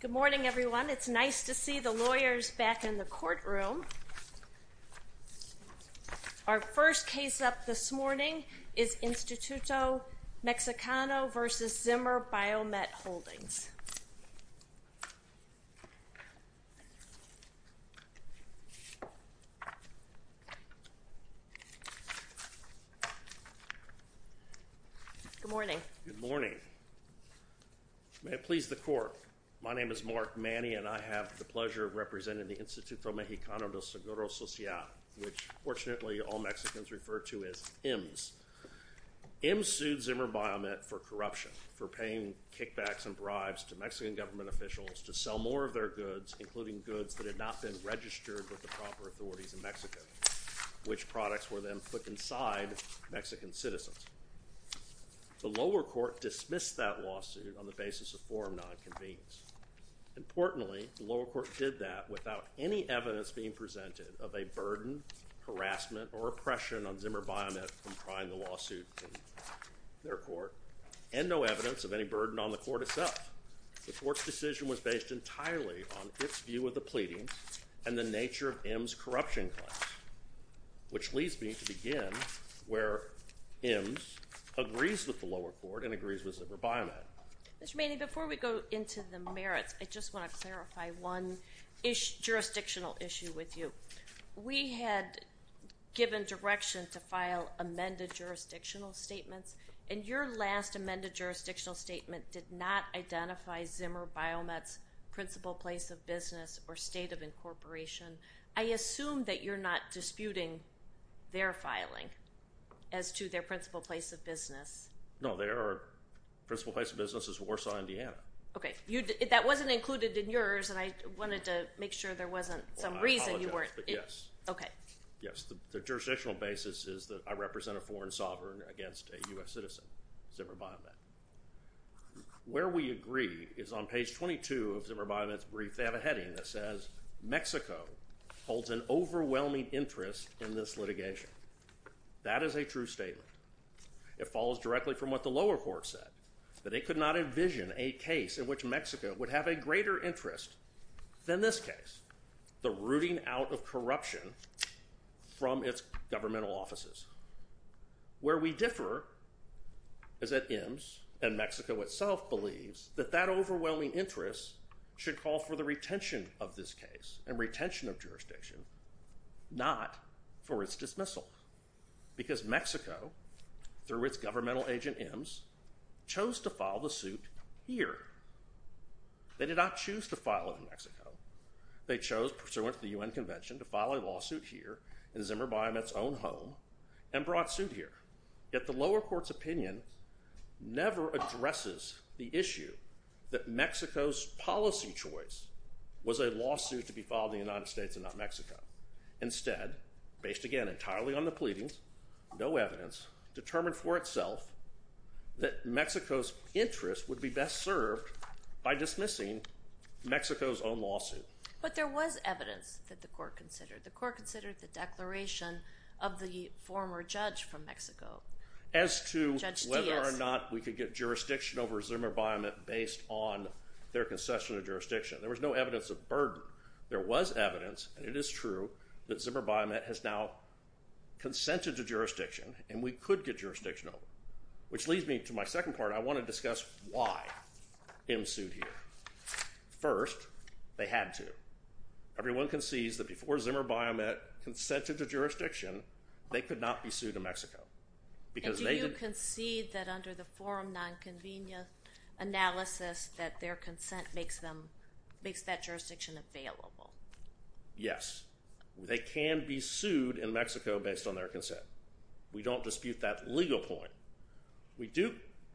Good morning, everyone. It's nice to see the lawyers back in the courtroom. Our first case up this morning is Instituto Mexicano v. Zimmer Biomet Holdings. Good morning. Good morning. May it please the court. My name is Mark Manny, and I have the pleasure of representing the Instituto Mexicano del Seguro Social, which, fortunately, all Mexicans refer to as IMS. IMS sued Zimmer Biomet for corruption, for paying kickbacks and bribes to Mexican government officials to sell more of their goods, including goods that had not been registered with the proper authorities in Mexico, which products were then put inside Mexican citizens. The lower court dismissed that lawsuit on the basis of forum nonconvenience. Importantly, the lower court did that without any evidence being presented of a burden, harassment, or oppression on Zimmer Biomet from trying the lawsuit in their court, and no evidence of any burden on the court itself. The court's decision was based entirely on its view of the pleading and the nature of IMS corruption claims, which leads me to begin where IMS agrees with the lower court and agrees with Zimmer Biomet. Mr. Manny, before we go into the merits, I just want to clarify one jurisdictional issue with you. We had given direction to file amended jurisdictional statements, and your last amended jurisdictional statement did not identify Zimmer Biomet's principal place of business or state of incorporation. I assume that you're not disputing their filing as to their principal place of business. No, their principal place of business is Warsaw, Indiana. Okay. That wasn't included in yours, and I wanted to make sure there wasn't some reason you weren't… Well, I apologize, but yes. Okay. Yes. The jurisdictional basis is that I represent a foreign sovereign against a U.S. citizen, Zimmer Biomet. Where we agree is on page 22 of Zimmer Biomet's brief. They have a heading that says, Mexico holds an overwhelming interest in this litigation. That is a true statement. It follows directly from what the lower court said, that it could not envision a case in which Mexico would have a greater interest than this case, the rooting out of corruption from its governmental offices. Where we differ is that IMSS and Mexico itself believes that that overwhelming interest should call for the retention of this case and retention of jurisdiction, not for its dismissal. Because Mexico, through its governmental agent IMSS, chose to file the suit here. They did not choose to file it in Mexico. They chose, pursuant to the U.N. Convention, to file a lawsuit here in Zimmer Biomet's own home and brought suit here. Yet the lower court's opinion never addresses the issue that Mexico's policy choice was a lawsuit to be filed in the United States and not Mexico. Instead, based again entirely on the pleadings, no evidence, determined for itself that Mexico's interest would be best served by dismissing Mexico's own lawsuit. But there was evidence that the court considered. The court considered the declaration of the former judge from Mexico, Judge Diaz. As to whether or not we could get jurisdiction over Zimmer Biomet based on their concession of jurisdiction. There was no evidence of burden. There was evidence, and it is true, that Zimmer Biomet has now consented to jurisdiction and we could get jurisdiction over. Which leads me to my second part. I want to discuss why IMSS sued here. First, they had to. Everyone concedes that before Zimmer Biomet consented to jurisdiction, they could not be sued in Mexico. And do you concede that under the forum nonconvenia analysis that their consent makes that jurisdiction available? Yes. They can be sued in Mexico based on their consent. We don't dispute that legal point. We do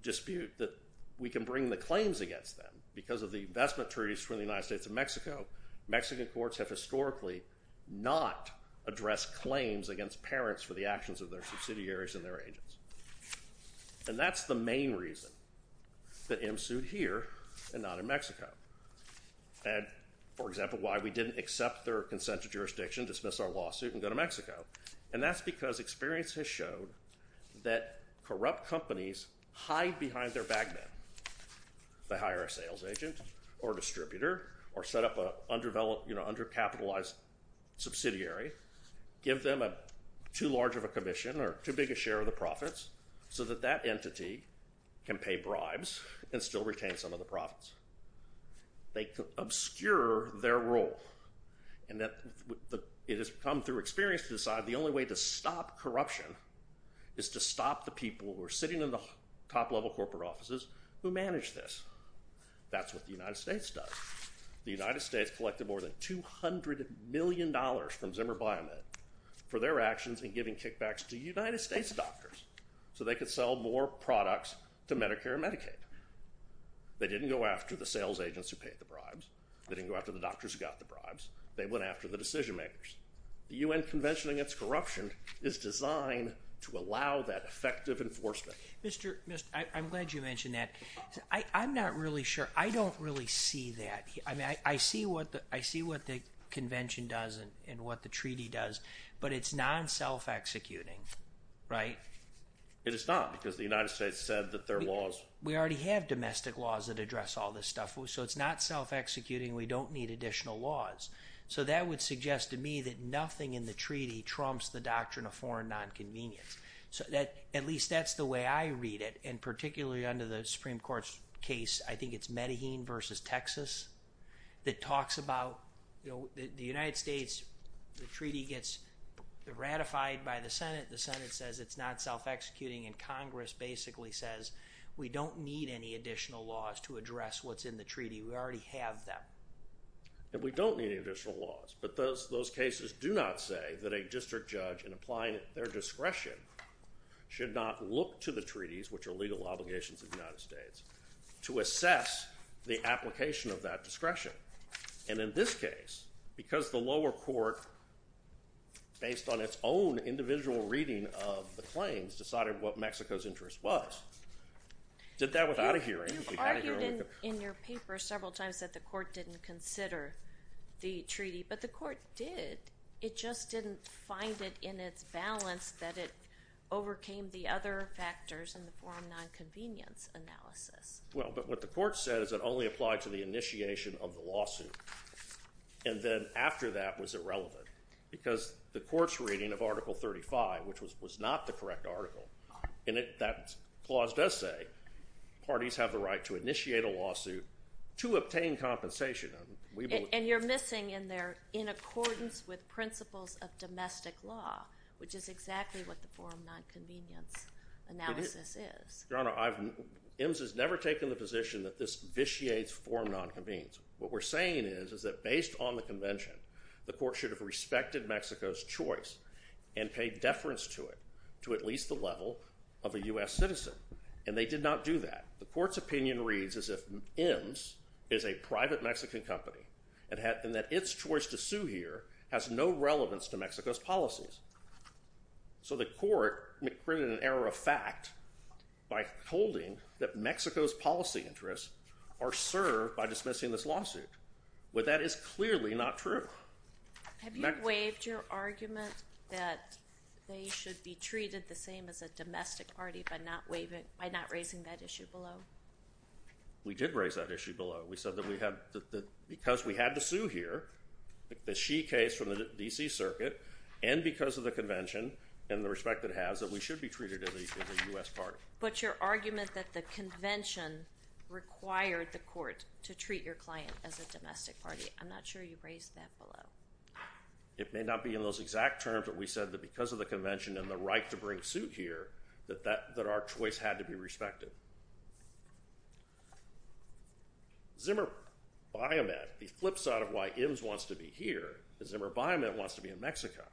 dispute that we can bring the claims against them because of the investment treaties from the United States and Mexico. Mexican courts have historically not addressed claims against parents for the actions of their subsidiaries and their agents. And that's the main reason that IMSS sued here and not in Mexico. And, for example, why we didn't accept their consent to jurisdiction, dismiss our lawsuit, and go to Mexico. And that's because experience has shown that corrupt companies hide behind their bag man. They hire a sales agent or distributor or set up an undercapitalized subsidiary. Give them too large of a commission or too big a share of the profits so that that entity can pay bribes and still retain some of the profits. They obscure their role. And it has come through experience to decide the only way to stop corruption is to stop the people who are sitting in the top-level corporate offices who manage this. That's what the United States does. The United States collected more than $200 million from Zimmer BioMed for their actions in giving kickbacks to United States doctors so they could sell more products to Medicare and Medicaid. They didn't go after the sales agents who paid the bribes. They didn't go after the doctors who got the bribes. They went after the decision-makers. The U.N. Convention Against Corruption is designed to allow that effective enforcement. Mr. – I'm glad you mentioned that. I'm not really sure – I don't really see that. I mean, I see what the convention does and what the treaty does, but it's non-self-executing, right? It is not because the United States said that their laws – we already have domestic laws that address all this stuff, so it's not self-executing. We don't need additional laws. So that would suggest to me that nothing in the treaty trumps the doctrine of foreign nonconvenience. At least that's the way I read it, and particularly under the Supreme Court's case. I think it's Medellin versus Texas that talks about the United States. The treaty gets ratified by the Senate. The Senate says it's not self-executing, and Congress basically says, we don't need any additional laws to address what's in the treaty. We already have them. And we don't need additional laws, but those cases do not say that a district judge, in applying their discretion, should not look to the treaties, which are legal obligations of the United States, to assess the application of that discretion. And in this case, because the lower court, based on its own individual reading of the claims, decided what Mexico's interest was, did that without a hearing. You've argued in your paper several times that the court didn't consider the treaty, but the court did. It just didn't find it in its balance that it overcame the other factors in the foreign nonconvenience analysis. Well, but what the court said is it only applied to the initiation of the lawsuit. And then after that was irrelevant, because the court's reading of Article 35, which was not the correct article, in that clause does say parties have the right to initiate a lawsuit to obtain compensation. And you're missing in there, in accordance with principles of domestic law, which is exactly what the foreign nonconvenience analysis is. Your Honor, IMMS has never taken the position that this vitiates foreign nonconvenience. What we're saying is, is that based on the convention, the court should have respected Mexico's choice and paid deference to it, to at least the level of a U.S. citizen. And they did not do that. The court's opinion reads as if IMMS is a private Mexican company, and that its choice to sue here has no relevance to Mexico's policies. So the court printed an error of fact by holding that Mexico's policy interests are served by dismissing this lawsuit. Well, that is clearly not true. Have you waived your argument that they should be treated the same as a domestic party by not raising that issue below? We did raise that issue below. We said that because we had to sue here, the Xi case from the D.C. Circuit, and because of the convention and the respect it has, that we should be treated as a U.S. party. But your argument that the convention required the court to treat your client as a domestic party, I'm not sure you raised that below. It may not be in those exact terms, but we said that because of the convention and the right to bring suit here, that our choice had to be respected. Zimmer Biomet, the flip side of why IMMS wants to be here, is Zimmer Biomet wants to be in Mexico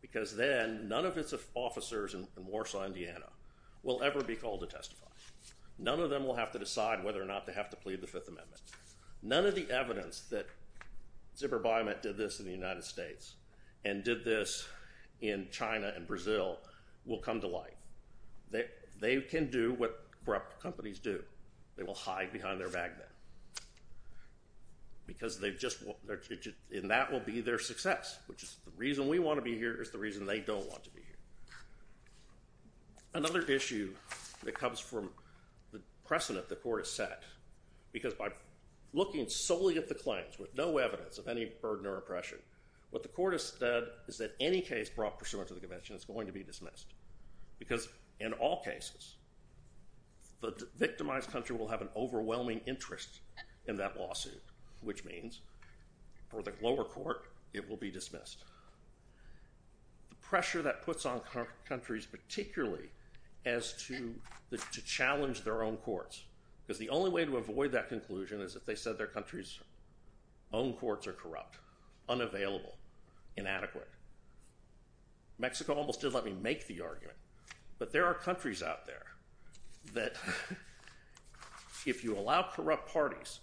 because then none of its officers in Warsaw, Indiana, will ever be called to testify. None of them will have to decide whether or not they have to plead the Fifth Amendment. None of the evidence that Zimmer Biomet did this in the United States and did this in China and Brazil will come to light. They can do what corrupt companies do. They will hide behind their magnet because that will be their success, which is the reason we want to be here is the reason they don't want to be here. Another issue that comes from the precedent the court has set, because by looking solely at the claims with no evidence of any burden or oppression, what the court has said is that any case brought pursuant to the convention is going to be dismissed because in all cases the victimized country will have an overwhelming interest in that lawsuit, which means for the lower court it will be dismissed. The pressure that puts on countries particularly as to challenge their own courts, because the only way to avoid that conclusion is if they said their country's own courts are corrupt, unavailable, inadequate. Mexico almost did let me make the argument. But there are countries out there that if you allow corrupt parties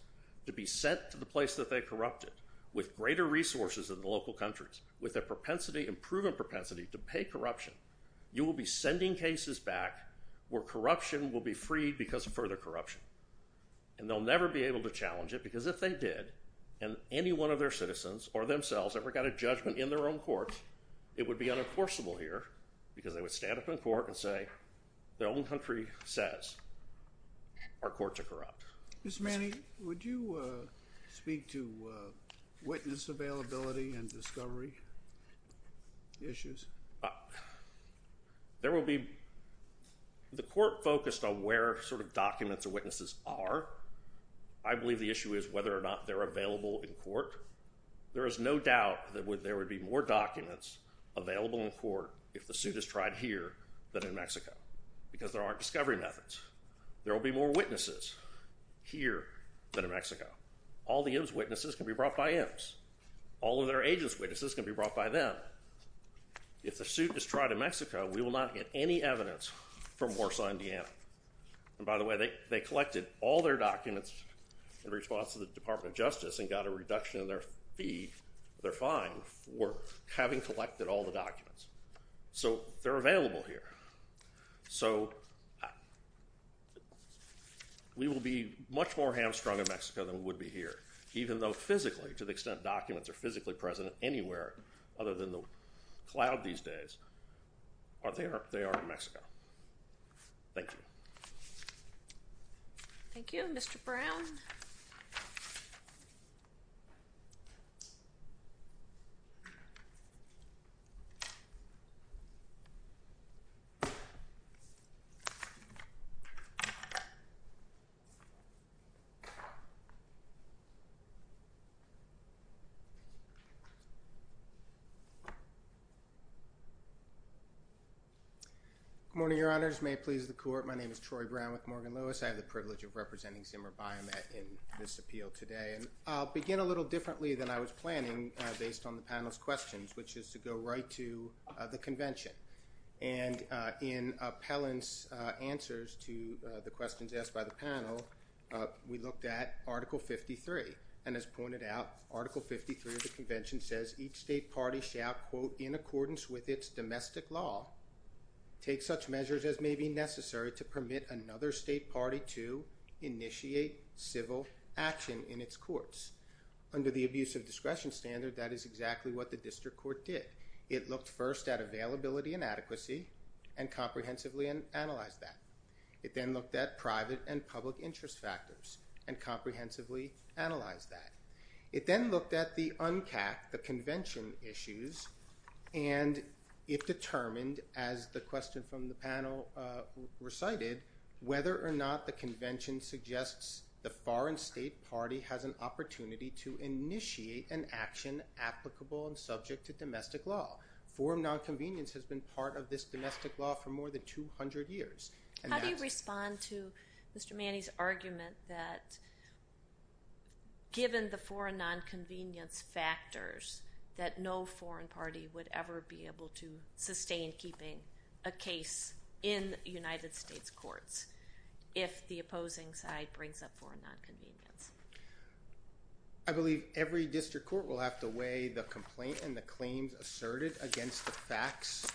to be sent to the place that they corrupted with greater resources than the local countries, with a proven propensity to pay corruption, you will be sending cases back where corruption will be freed because of further corruption. And they'll never be able to challenge it because if they did, and any one of their citizens or themselves ever got a judgment in their own court, it would be unenforceable here because they would stand up in court and say their own country says our courts are corrupt. Mr. Manning, would you speak to witness availability and discovery issues? There will be the court focused on where sort of documents or witnesses are. I believe the issue is whether or not they're available in court. There is no doubt that there would be more documents available in court if the suit is tried here than in Mexico because there aren't discovery methods. There will be more witnesses here than in Mexico. All the IMS witnesses can be brought by IMS. All of their agents' witnesses can be brought by them. If the suit is tried in Mexico, we will not get any evidence from Warsaw, Indiana. And by the way, they collected all their documents in response to the Department of Justice and got a reduction in their fee, their fine, for having collected all the documents. So they're available here. So we will be much more hamstrung in Mexico than we would be here, even though physically, to the extent documents are physically present anywhere other than the cloud these days, they are in Mexico. Thank you. Thank you, Mr. Brown. Good morning, Your Honors. May it please the Court. My name is Troy Brown with Morgan Lewis. I have the privilege of representing Zimmer Biomet in this appeal today. And I'll begin a little differently than I was planning based on the panel's questions, which is to go right to the Convention. And in Appellant's answers to the questions asked by the panel, we looked at Article 53. And as pointed out, Article 53 of the Convention says, each state party shall, quote, in accordance with its domestic law, take such measures as may be necessary to permit another state party to initiate civil action in its courts. Under the abuse of discretion standard, that is exactly what the District Court did. It looked first at availability and adequacy and comprehensively analyzed that. It then looked at private and public interest factors and comprehensively analyzed that. It then looked at the UNCAC, the Convention issues, and it determined, as the question from the panel recited, whether or not the Convention suggests the foreign state party has an opportunity to initiate an action applicable and subject to domestic law. Foreign nonconvenience has been part of this domestic law for more than 200 years. How do you respond to Mr. Manning's argument that, given the foreign nonconvenience factors, that no foreign party would ever be able to sustain keeping a case in United States courts if the opposing side brings up foreign nonconvenience? I believe every District Court will have to weigh the complaint and the claims asserted against the facts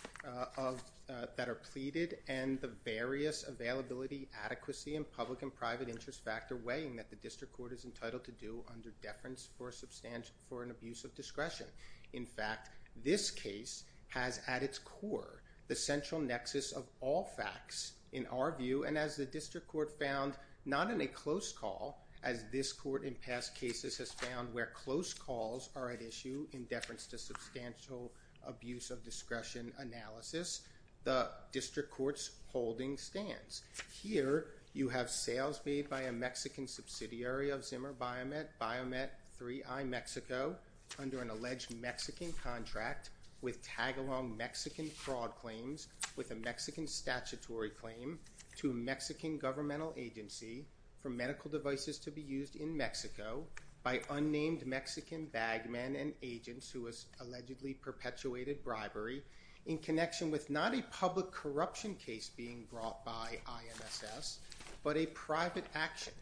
that are pleaded and the various availability, adequacy, and public and private interest factor weighing that the District Court is entitled to do under deference for an abuse of discretion. In fact, this case has at its core the central nexus of all facts in our view, and as the District Court found not in a close call, as this court in past cases has found where close calls are at issue in deference to substantial abuse of discretion analysis, the District Court's holding stands. Here you have sales made by a Mexican subsidiary of Zimmer Biomet, Biomet 3i Mexico, under an alleged Mexican contract with tag-along Mexican fraud claims with a Mexican statutory claim to a Mexican governmental agency for medical devices to be used in Mexico by unnamed Mexican bag men and agents who allegedly perpetuated bribery in connection with not a public corruption case being brought by INSS, but a private action.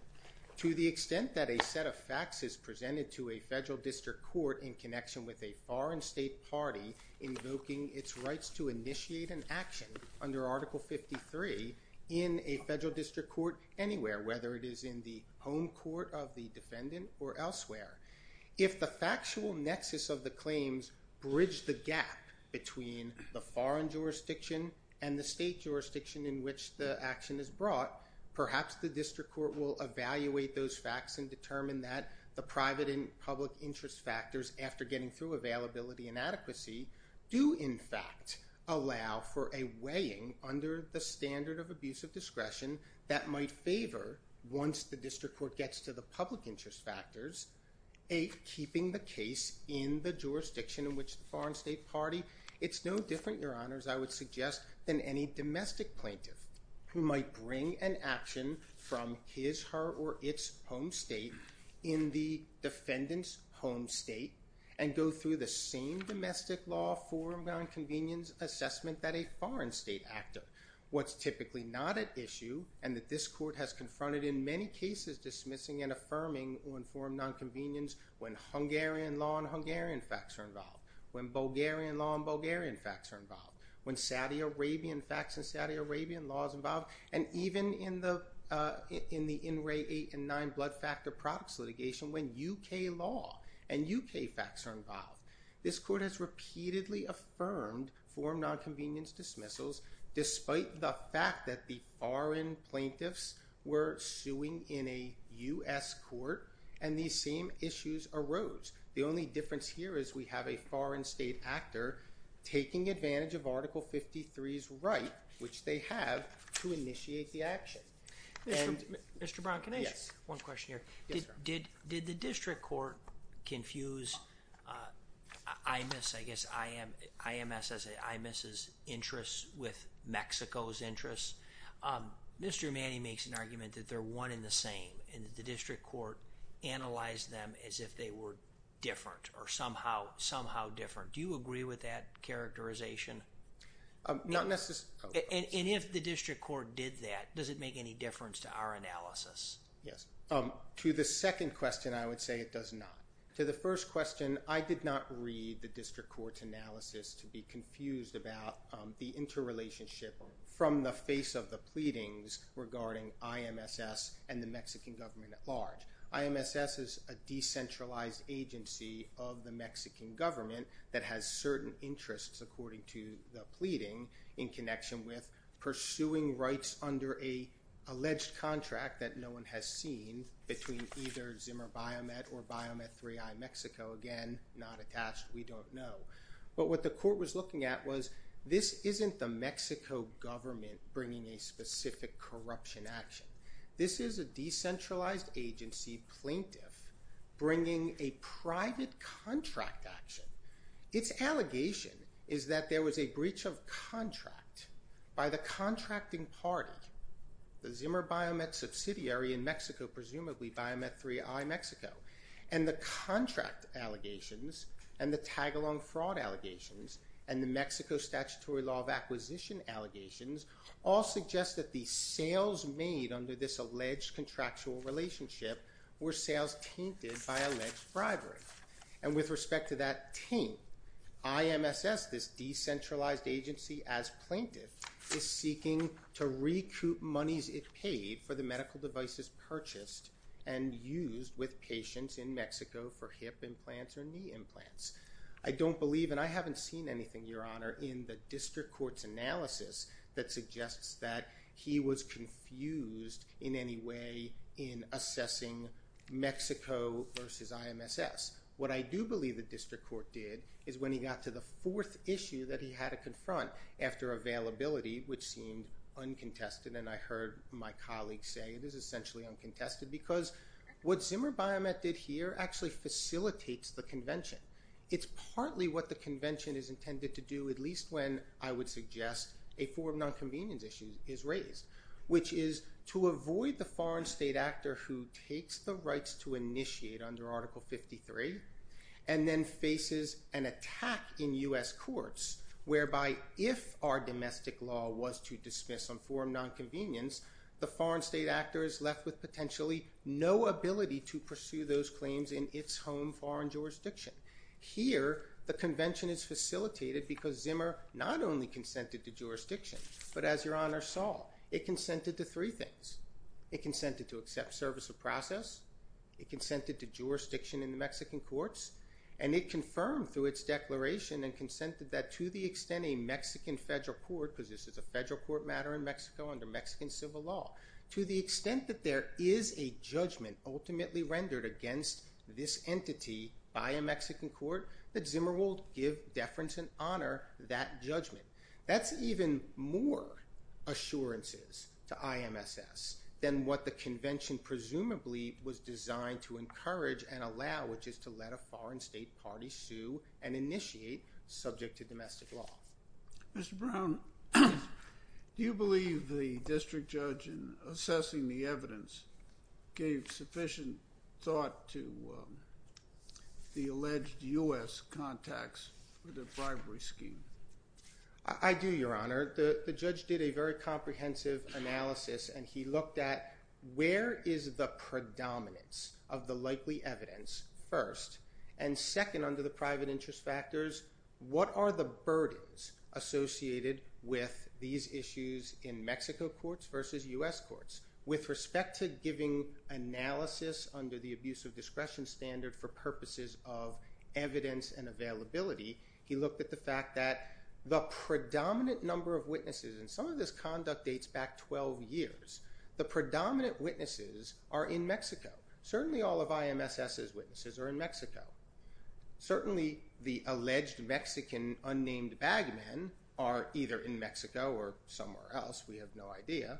To the extent that a set of facts is presented to a Federal District Court in connection with a foreign state party invoking its rights to initiate an action under Article 53 in a Federal District Court anywhere, whether it is in the home court of the defendant or elsewhere. If the factual nexus of the claims bridge the gap between the foreign jurisdiction and the state jurisdiction in which the action is brought, perhaps the District Court will evaluate those facts and determine that the private and public interest factors after getting through availability and adequacy do, in fact, allow for a weighing under the standard of abuse of discretion that might favor once the District Court gets to the public interest factors keeping the case in the jurisdiction in which the foreign state party. It's no different, Your Honors, I would suggest, than any domestic plaintiff who might bring an action from his, her, or its home state in the defendant's home state and go through the same domestic law forum nonconvenience assessment that a foreign state actor. What's typically not at issue, and that this Court has confronted in many cases dismissing and affirming on forum nonconvenience when Hungarian law and Hungarian facts are involved, when Bulgarian law and Bulgarian facts are involved, when Saudi Arabian facts and Saudi Arabian laws are involved, and even in the In Re 8 and 9 blood factor products litigation when UK law and UK facts are involved. This Court has repeatedly affirmed forum nonconvenience dismissals despite the fact that the foreign plaintiffs were suing in a U.S. court and these same issues arose. The only difference here is we have a foreign state actor taking advantage of Article 53's right, which they have, to initiate the action. Mr. Brown, can I ask one question here? Yes, Your Honor. Did the District Court confuse IMS, I guess IMS as in IMS's interest with Mexico's interest? Mr. Emani makes an argument that they're one and the same and that the District Court analyzed them as if they were different or somehow different. Do you agree with that characterization? Not necessarily. And if the District Court did that, does it make any difference to our analysis? Yes. To the second question, I would say it does not. To the first question, I did not read the District Court's analysis to be confused about the interrelationship from the face of the pleadings regarding IMSS and the Mexican government at large. IMSS is a decentralized agency of the Mexican government that has certain interests, according to the pleading, in connection with pursuing rights under an alleged contract that no one has seen between either Zimmer Biomet or Biomet 3i Mexico. Again, not attached. We don't know. But what the court was looking at was this isn't the Mexico government bringing a specific corruption action. This is a decentralized agency plaintiff bringing a private contract action. Its allegation is that there was a breach of contract by the contracting party, the Zimmer Biomet subsidiary in Mexico, presumably Biomet 3i Mexico, and the contract allegations and the tag-along fraud allegations and the Mexico statutory law of acquisition allegations all suggest that the sales made under this alleged contractual relationship were sales tainted by alleged bribery. And with respect to that taint, IMSS, this decentralized agency as plaintiff, is seeking to recoup monies it paid for the medical devices purchased and used with patients in Mexico for hip implants or knee implants. I don't believe, and I haven't seen anything, Your Honor, in the district court's analysis that suggests that he was confused in any way in assessing Mexico versus IMSS. What I do believe the district court did is when he got to the fourth issue that he had to confront after availability, which seemed uncontested, and I heard my colleagues say it is essentially uncontested because what Zimmer Biomet did here actually facilitates the convention. It's partly what the convention is intended to do, at least when I would suggest a form of nonconvenience issue is raised, which is to avoid the foreign state actor who takes the rights to initiate under Article 53 and then faces an attack in U.S. courts whereby if our domestic law was to dismiss on form of nonconvenience, the foreign state actor is left with potentially no ability to pursue those claims in its home foreign jurisdiction. Here, the convention is facilitated because Zimmer not only consented to jurisdiction, but as Your Honor saw, it consented to three things. It consented to accept service of process. It consented to jurisdiction in the Mexican courts. And it confirmed through its declaration and consented that to the extent a Mexican federal court, because this is a federal court matter in Mexico under Mexican civil law, to the extent that there is a judgment ultimately rendered against this entity by a Mexican court, that Zimmer will give deference and honor that judgment. That's even more assurances to IMSS than what the convention presumably was designed to encourage and allow, which is to let a foreign state party sue and initiate subject to domestic law. Mr. Brown, do you believe the district judge in assessing the evidence gave sufficient thought to the alleged U.S. contacts with the bribery scheme? I do, Your Honor. The judge did a very comprehensive analysis, and he looked at where is the predominance of the likely evidence first, and second, under the private interest factors, what are the burdens associated with these issues in Mexico courts versus U.S. courts. With respect to giving analysis under the abuse of discretion standard for purposes of evidence and availability, he looked at the fact that the predominant number of witnesses, and some of this conduct dates back 12 years, the predominant witnesses are in Mexico. Certainly all of IMSS's witnesses are in Mexico. Certainly the alleged Mexican unnamed bag men are either in Mexico or somewhere else. We have no idea.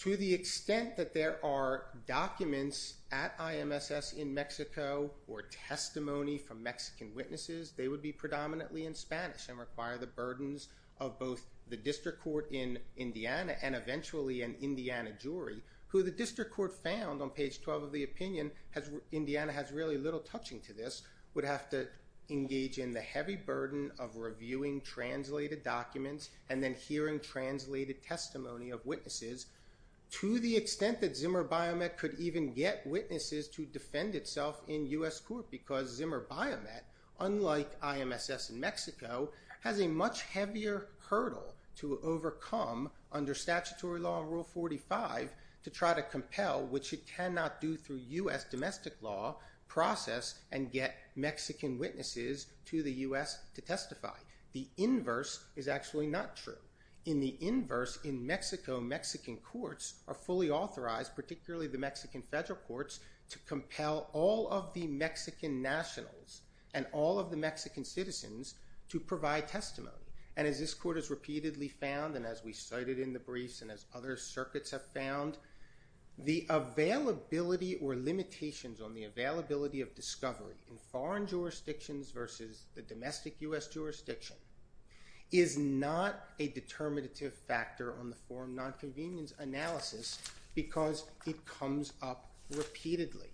To the extent that there are documents at IMSS in Mexico or testimony from Mexican witnesses, they would be predominantly in Spanish and require the burdens of both the district court in Indiana and eventually an Indiana jury, who the district court found on page 12 of the opinion, Indiana has really little touching to this, would have to engage in the heavy burden of reviewing translated documents and then hearing translated testimony of witnesses. To the extent that Zimmer Biomet could even get witnesses to defend itself in U.S. court because Zimmer Biomet, unlike IMSS in Mexico, has a much heavier hurdle to overcome under statutory law in Rule 45 to try to compel, which it cannot do through U.S. domestic law, process and get Mexican witnesses to the U.S. to testify. The inverse is actually not true. In the inverse, in Mexico, Mexican courts are fully authorized, particularly the Mexican federal courts, to compel all of the Mexican nationals and all of the Mexican citizens to provide testimony. And as this court has repeatedly found and as we cited in the briefs and as other circuits have found, the availability or limitations on the availability of discovery in foreign jurisdictions versus the domestic U.S. jurisdiction is not a determinative factor on the Foreign Nonconvenience Analysis because it comes up repeatedly.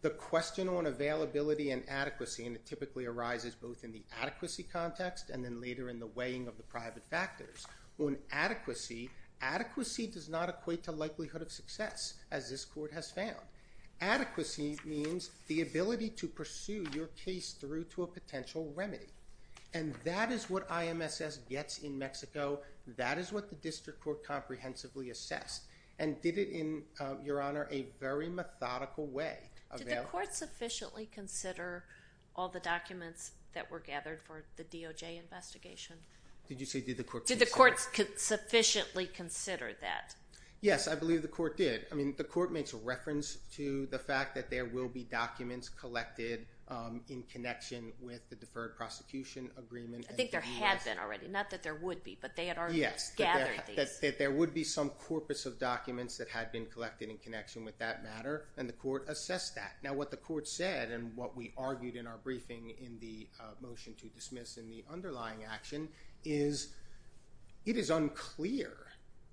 The question on availability and adequacy, and it typically arises both in the adequacy context and then later in the weighing of the private factors. On adequacy, adequacy does not equate to likelihood of success, as this court has found. Adequacy means the ability to pursue your case through to a potential remedy. And that is what IMSS gets in Mexico. That is what the district court comprehensively assessed. And did it in, Your Honor, a very methodical way. Did the court sufficiently consider all the documents that were gathered for the DOJ investigation? Did you say did the court consider? Did the court sufficiently consider that? Yes, I believe the court did. I mean, the court makes reference to the fact that there will be documents collected in connection with the deferred prosecution agreement. I think there had been already, not that there would be, but they had already gathered these. That there would be some corpus of documents that had been collected in connection with that matter, and the court assessed that. Now what the court said and what we argued in our briefing in the motion to dismiss in the underlying action is it is unclear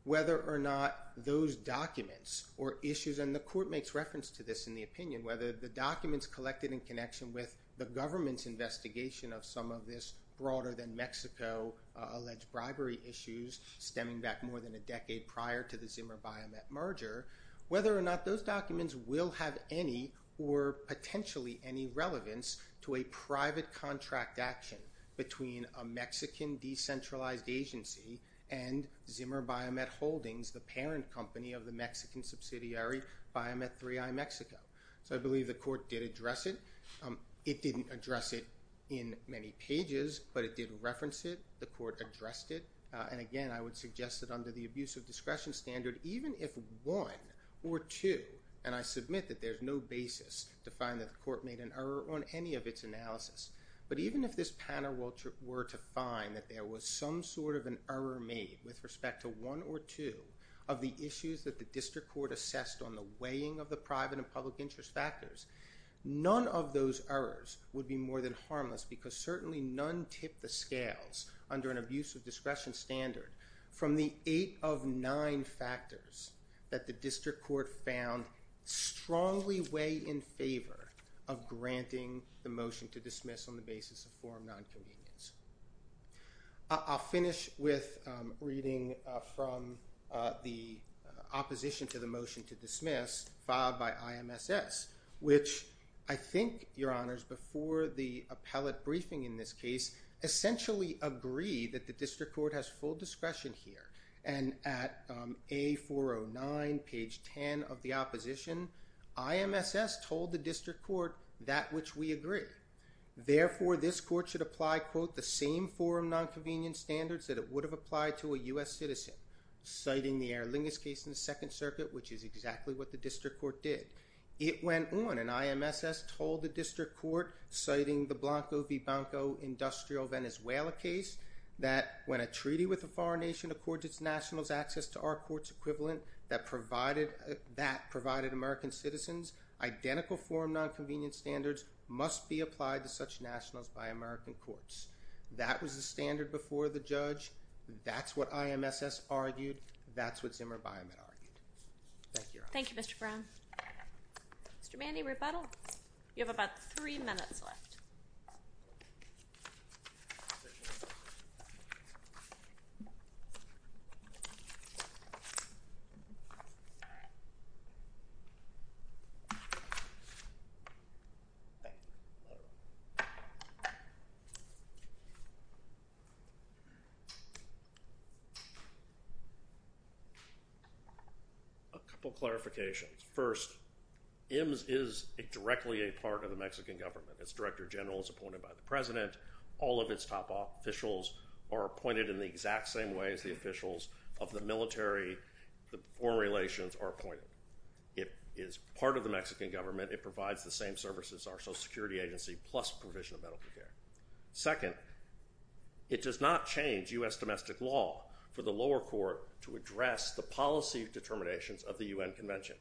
whether or not those documents or issues, and the court makes reference to this in the opinion, whether the documents collected in connection with the government's investigation of some of this broader than Mexico alleged bribery issues stemming back more than a decade prior to the Zimmer Biomet merger, whether or not those documents will have any or potentially any relevance to a private contract action between a Mexican decentralized agency and Zimmer Biomet Holdings, the parent company of the Mexican subsidiary Biomet 3i Mexico. So I believe the court did address it. It didn't address it in many pages, but it did reference it. The court addressed it, and again, I would suggest that under the abuse of discretion standard, even if one or two, and I submit that there's no basis to find that the court made an error on any of its analysis, but even if this panel were to find that there was some sort of an error made with respect to one or two of the issues that the district court assessed on the weighing of the private and public interest factors, none of those errors would be more than harmless because certainly none tip the scales under an abuse of discretion standard from the eight of nine factors that the district court found strongly weigh in favor of granting the motion to dismiss on the basis of forum non-convenience. I'll finish with reading from the opposition to the motion to dismiss filed by IMSS, which I think, Your Honors, before the appellate briefing in this case, essentially agreed that the district court has full discretion here, and at A409, page 10 of the opposition, IMSS told the district court that which we agree. Therefore, this court should apply, quote, the same forum non-convenience standards that it would have applied to a U.S. citizen, citing the Erlinges case in the Second Circuit, which is exactly what the district court did. It went on, and IMSS told the district court, citing the Blanco v. Banco industrial Venezuela case, that when a treaty with a foreign nation accords its nationals access to our court's equivalent that provided American citizens, identical forum non-convenience standards must be applied to such nationals by American courts. That was the standard before the judge. That's what IMSS argued. That's what Zimmer Byam had argued. Thank you, Your Honors. Thank you, Mr. Brown. Mr. Mandy, rebuttal. You have about three minutes left. Thank you. A couple clarifications. First, IMSS is directly a part of the Mexican government. Its director general is appointed by the president. All of its top officials are appointed in the exact same way as the officials of the military. The foreign relations are appointed. It is part of the Mexican government. It provides the same services our Social Security Agency plus provision of medical care. Second, it does not change U.S. domestic law the policy determinations of the U.N. Convention.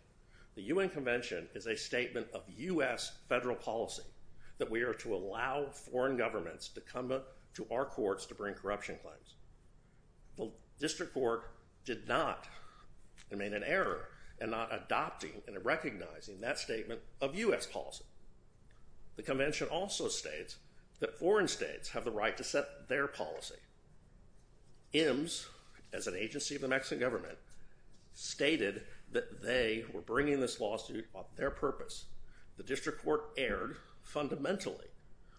The U.N. Convention is a statement of U.S. federal policy that we are to allow foreign governments to come to our courts to bring corruption claims. The District Court did not make an error in not adopting and recognizing that statement of U.S. policy. The Convention also states that foreign states have the right to set their policy. IMSS, as an agency of the Mexican government, stated that they were bringing this lawsuit on their purpose. The District Court erred fundamentally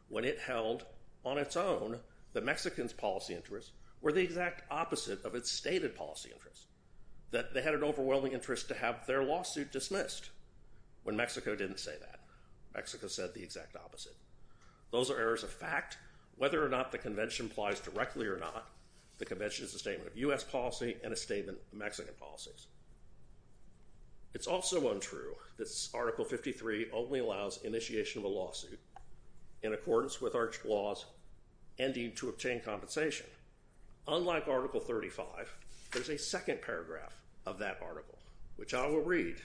when it held on its own that Mexicans' policy interests were the exact opposite of its stated policy interests. That they had an overwhelming interest to have their lawsuit dismissed when Mexico didn't say that. Mexico said the exact opposite. Those are errors of fact. Whether or not the Convention applies directly or not, the Convention is a statement of U.S. policy and a statement of Mexican policy. It's also untrue that Article 53 only allows initiation of a lawsuit in accordance with our laws ending to obtain compensation. Unlike Article 35, there's a second paragraph of that article, which I will read.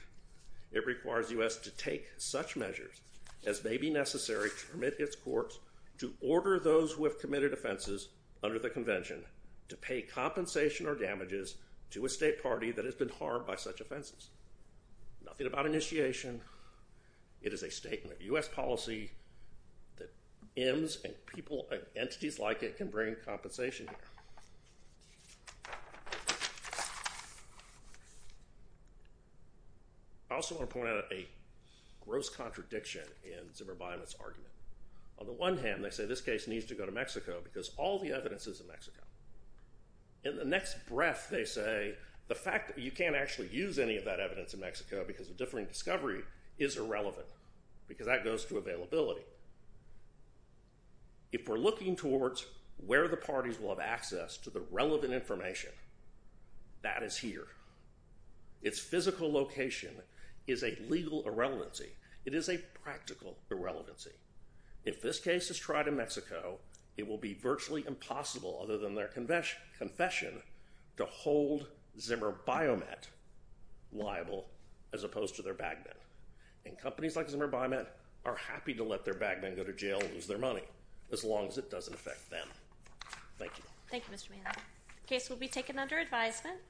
It requires U.S. to take such measures as may be necessary to permit its courts to order those who have committed offenses under the Convention to pay compensation or damages to a state party that has been harmed by such offenses. Nothing about initiation. It is a statement of U.S. policy that M's and entities like it can bring compensation here. I also want to point out a gross contradiction in Zimmerbeinemann's argument. On the one hand, they say this case needs to go to Mexico because all the evidence is in Mexico. In the next breath, they say the fact that you can't actually use any of that evidence in Mexico because of differing discovery is irrelevant because that goes to availability. If we're looking towards where the parties will have access to the relevant information, that is here. Its physical location is a legal irrelevancy. It is a practical irrelevancy. If this case is tried in Mexico, it will be virtually impossible other than their confession to hold Zimmerbeinemann liable as opposed to their bagman. Companies like Zimmerbeinemann are happy to let their bagman go to jail and lose their money as long as it doesn't affect them. Thank you. The case will be taken under advisement.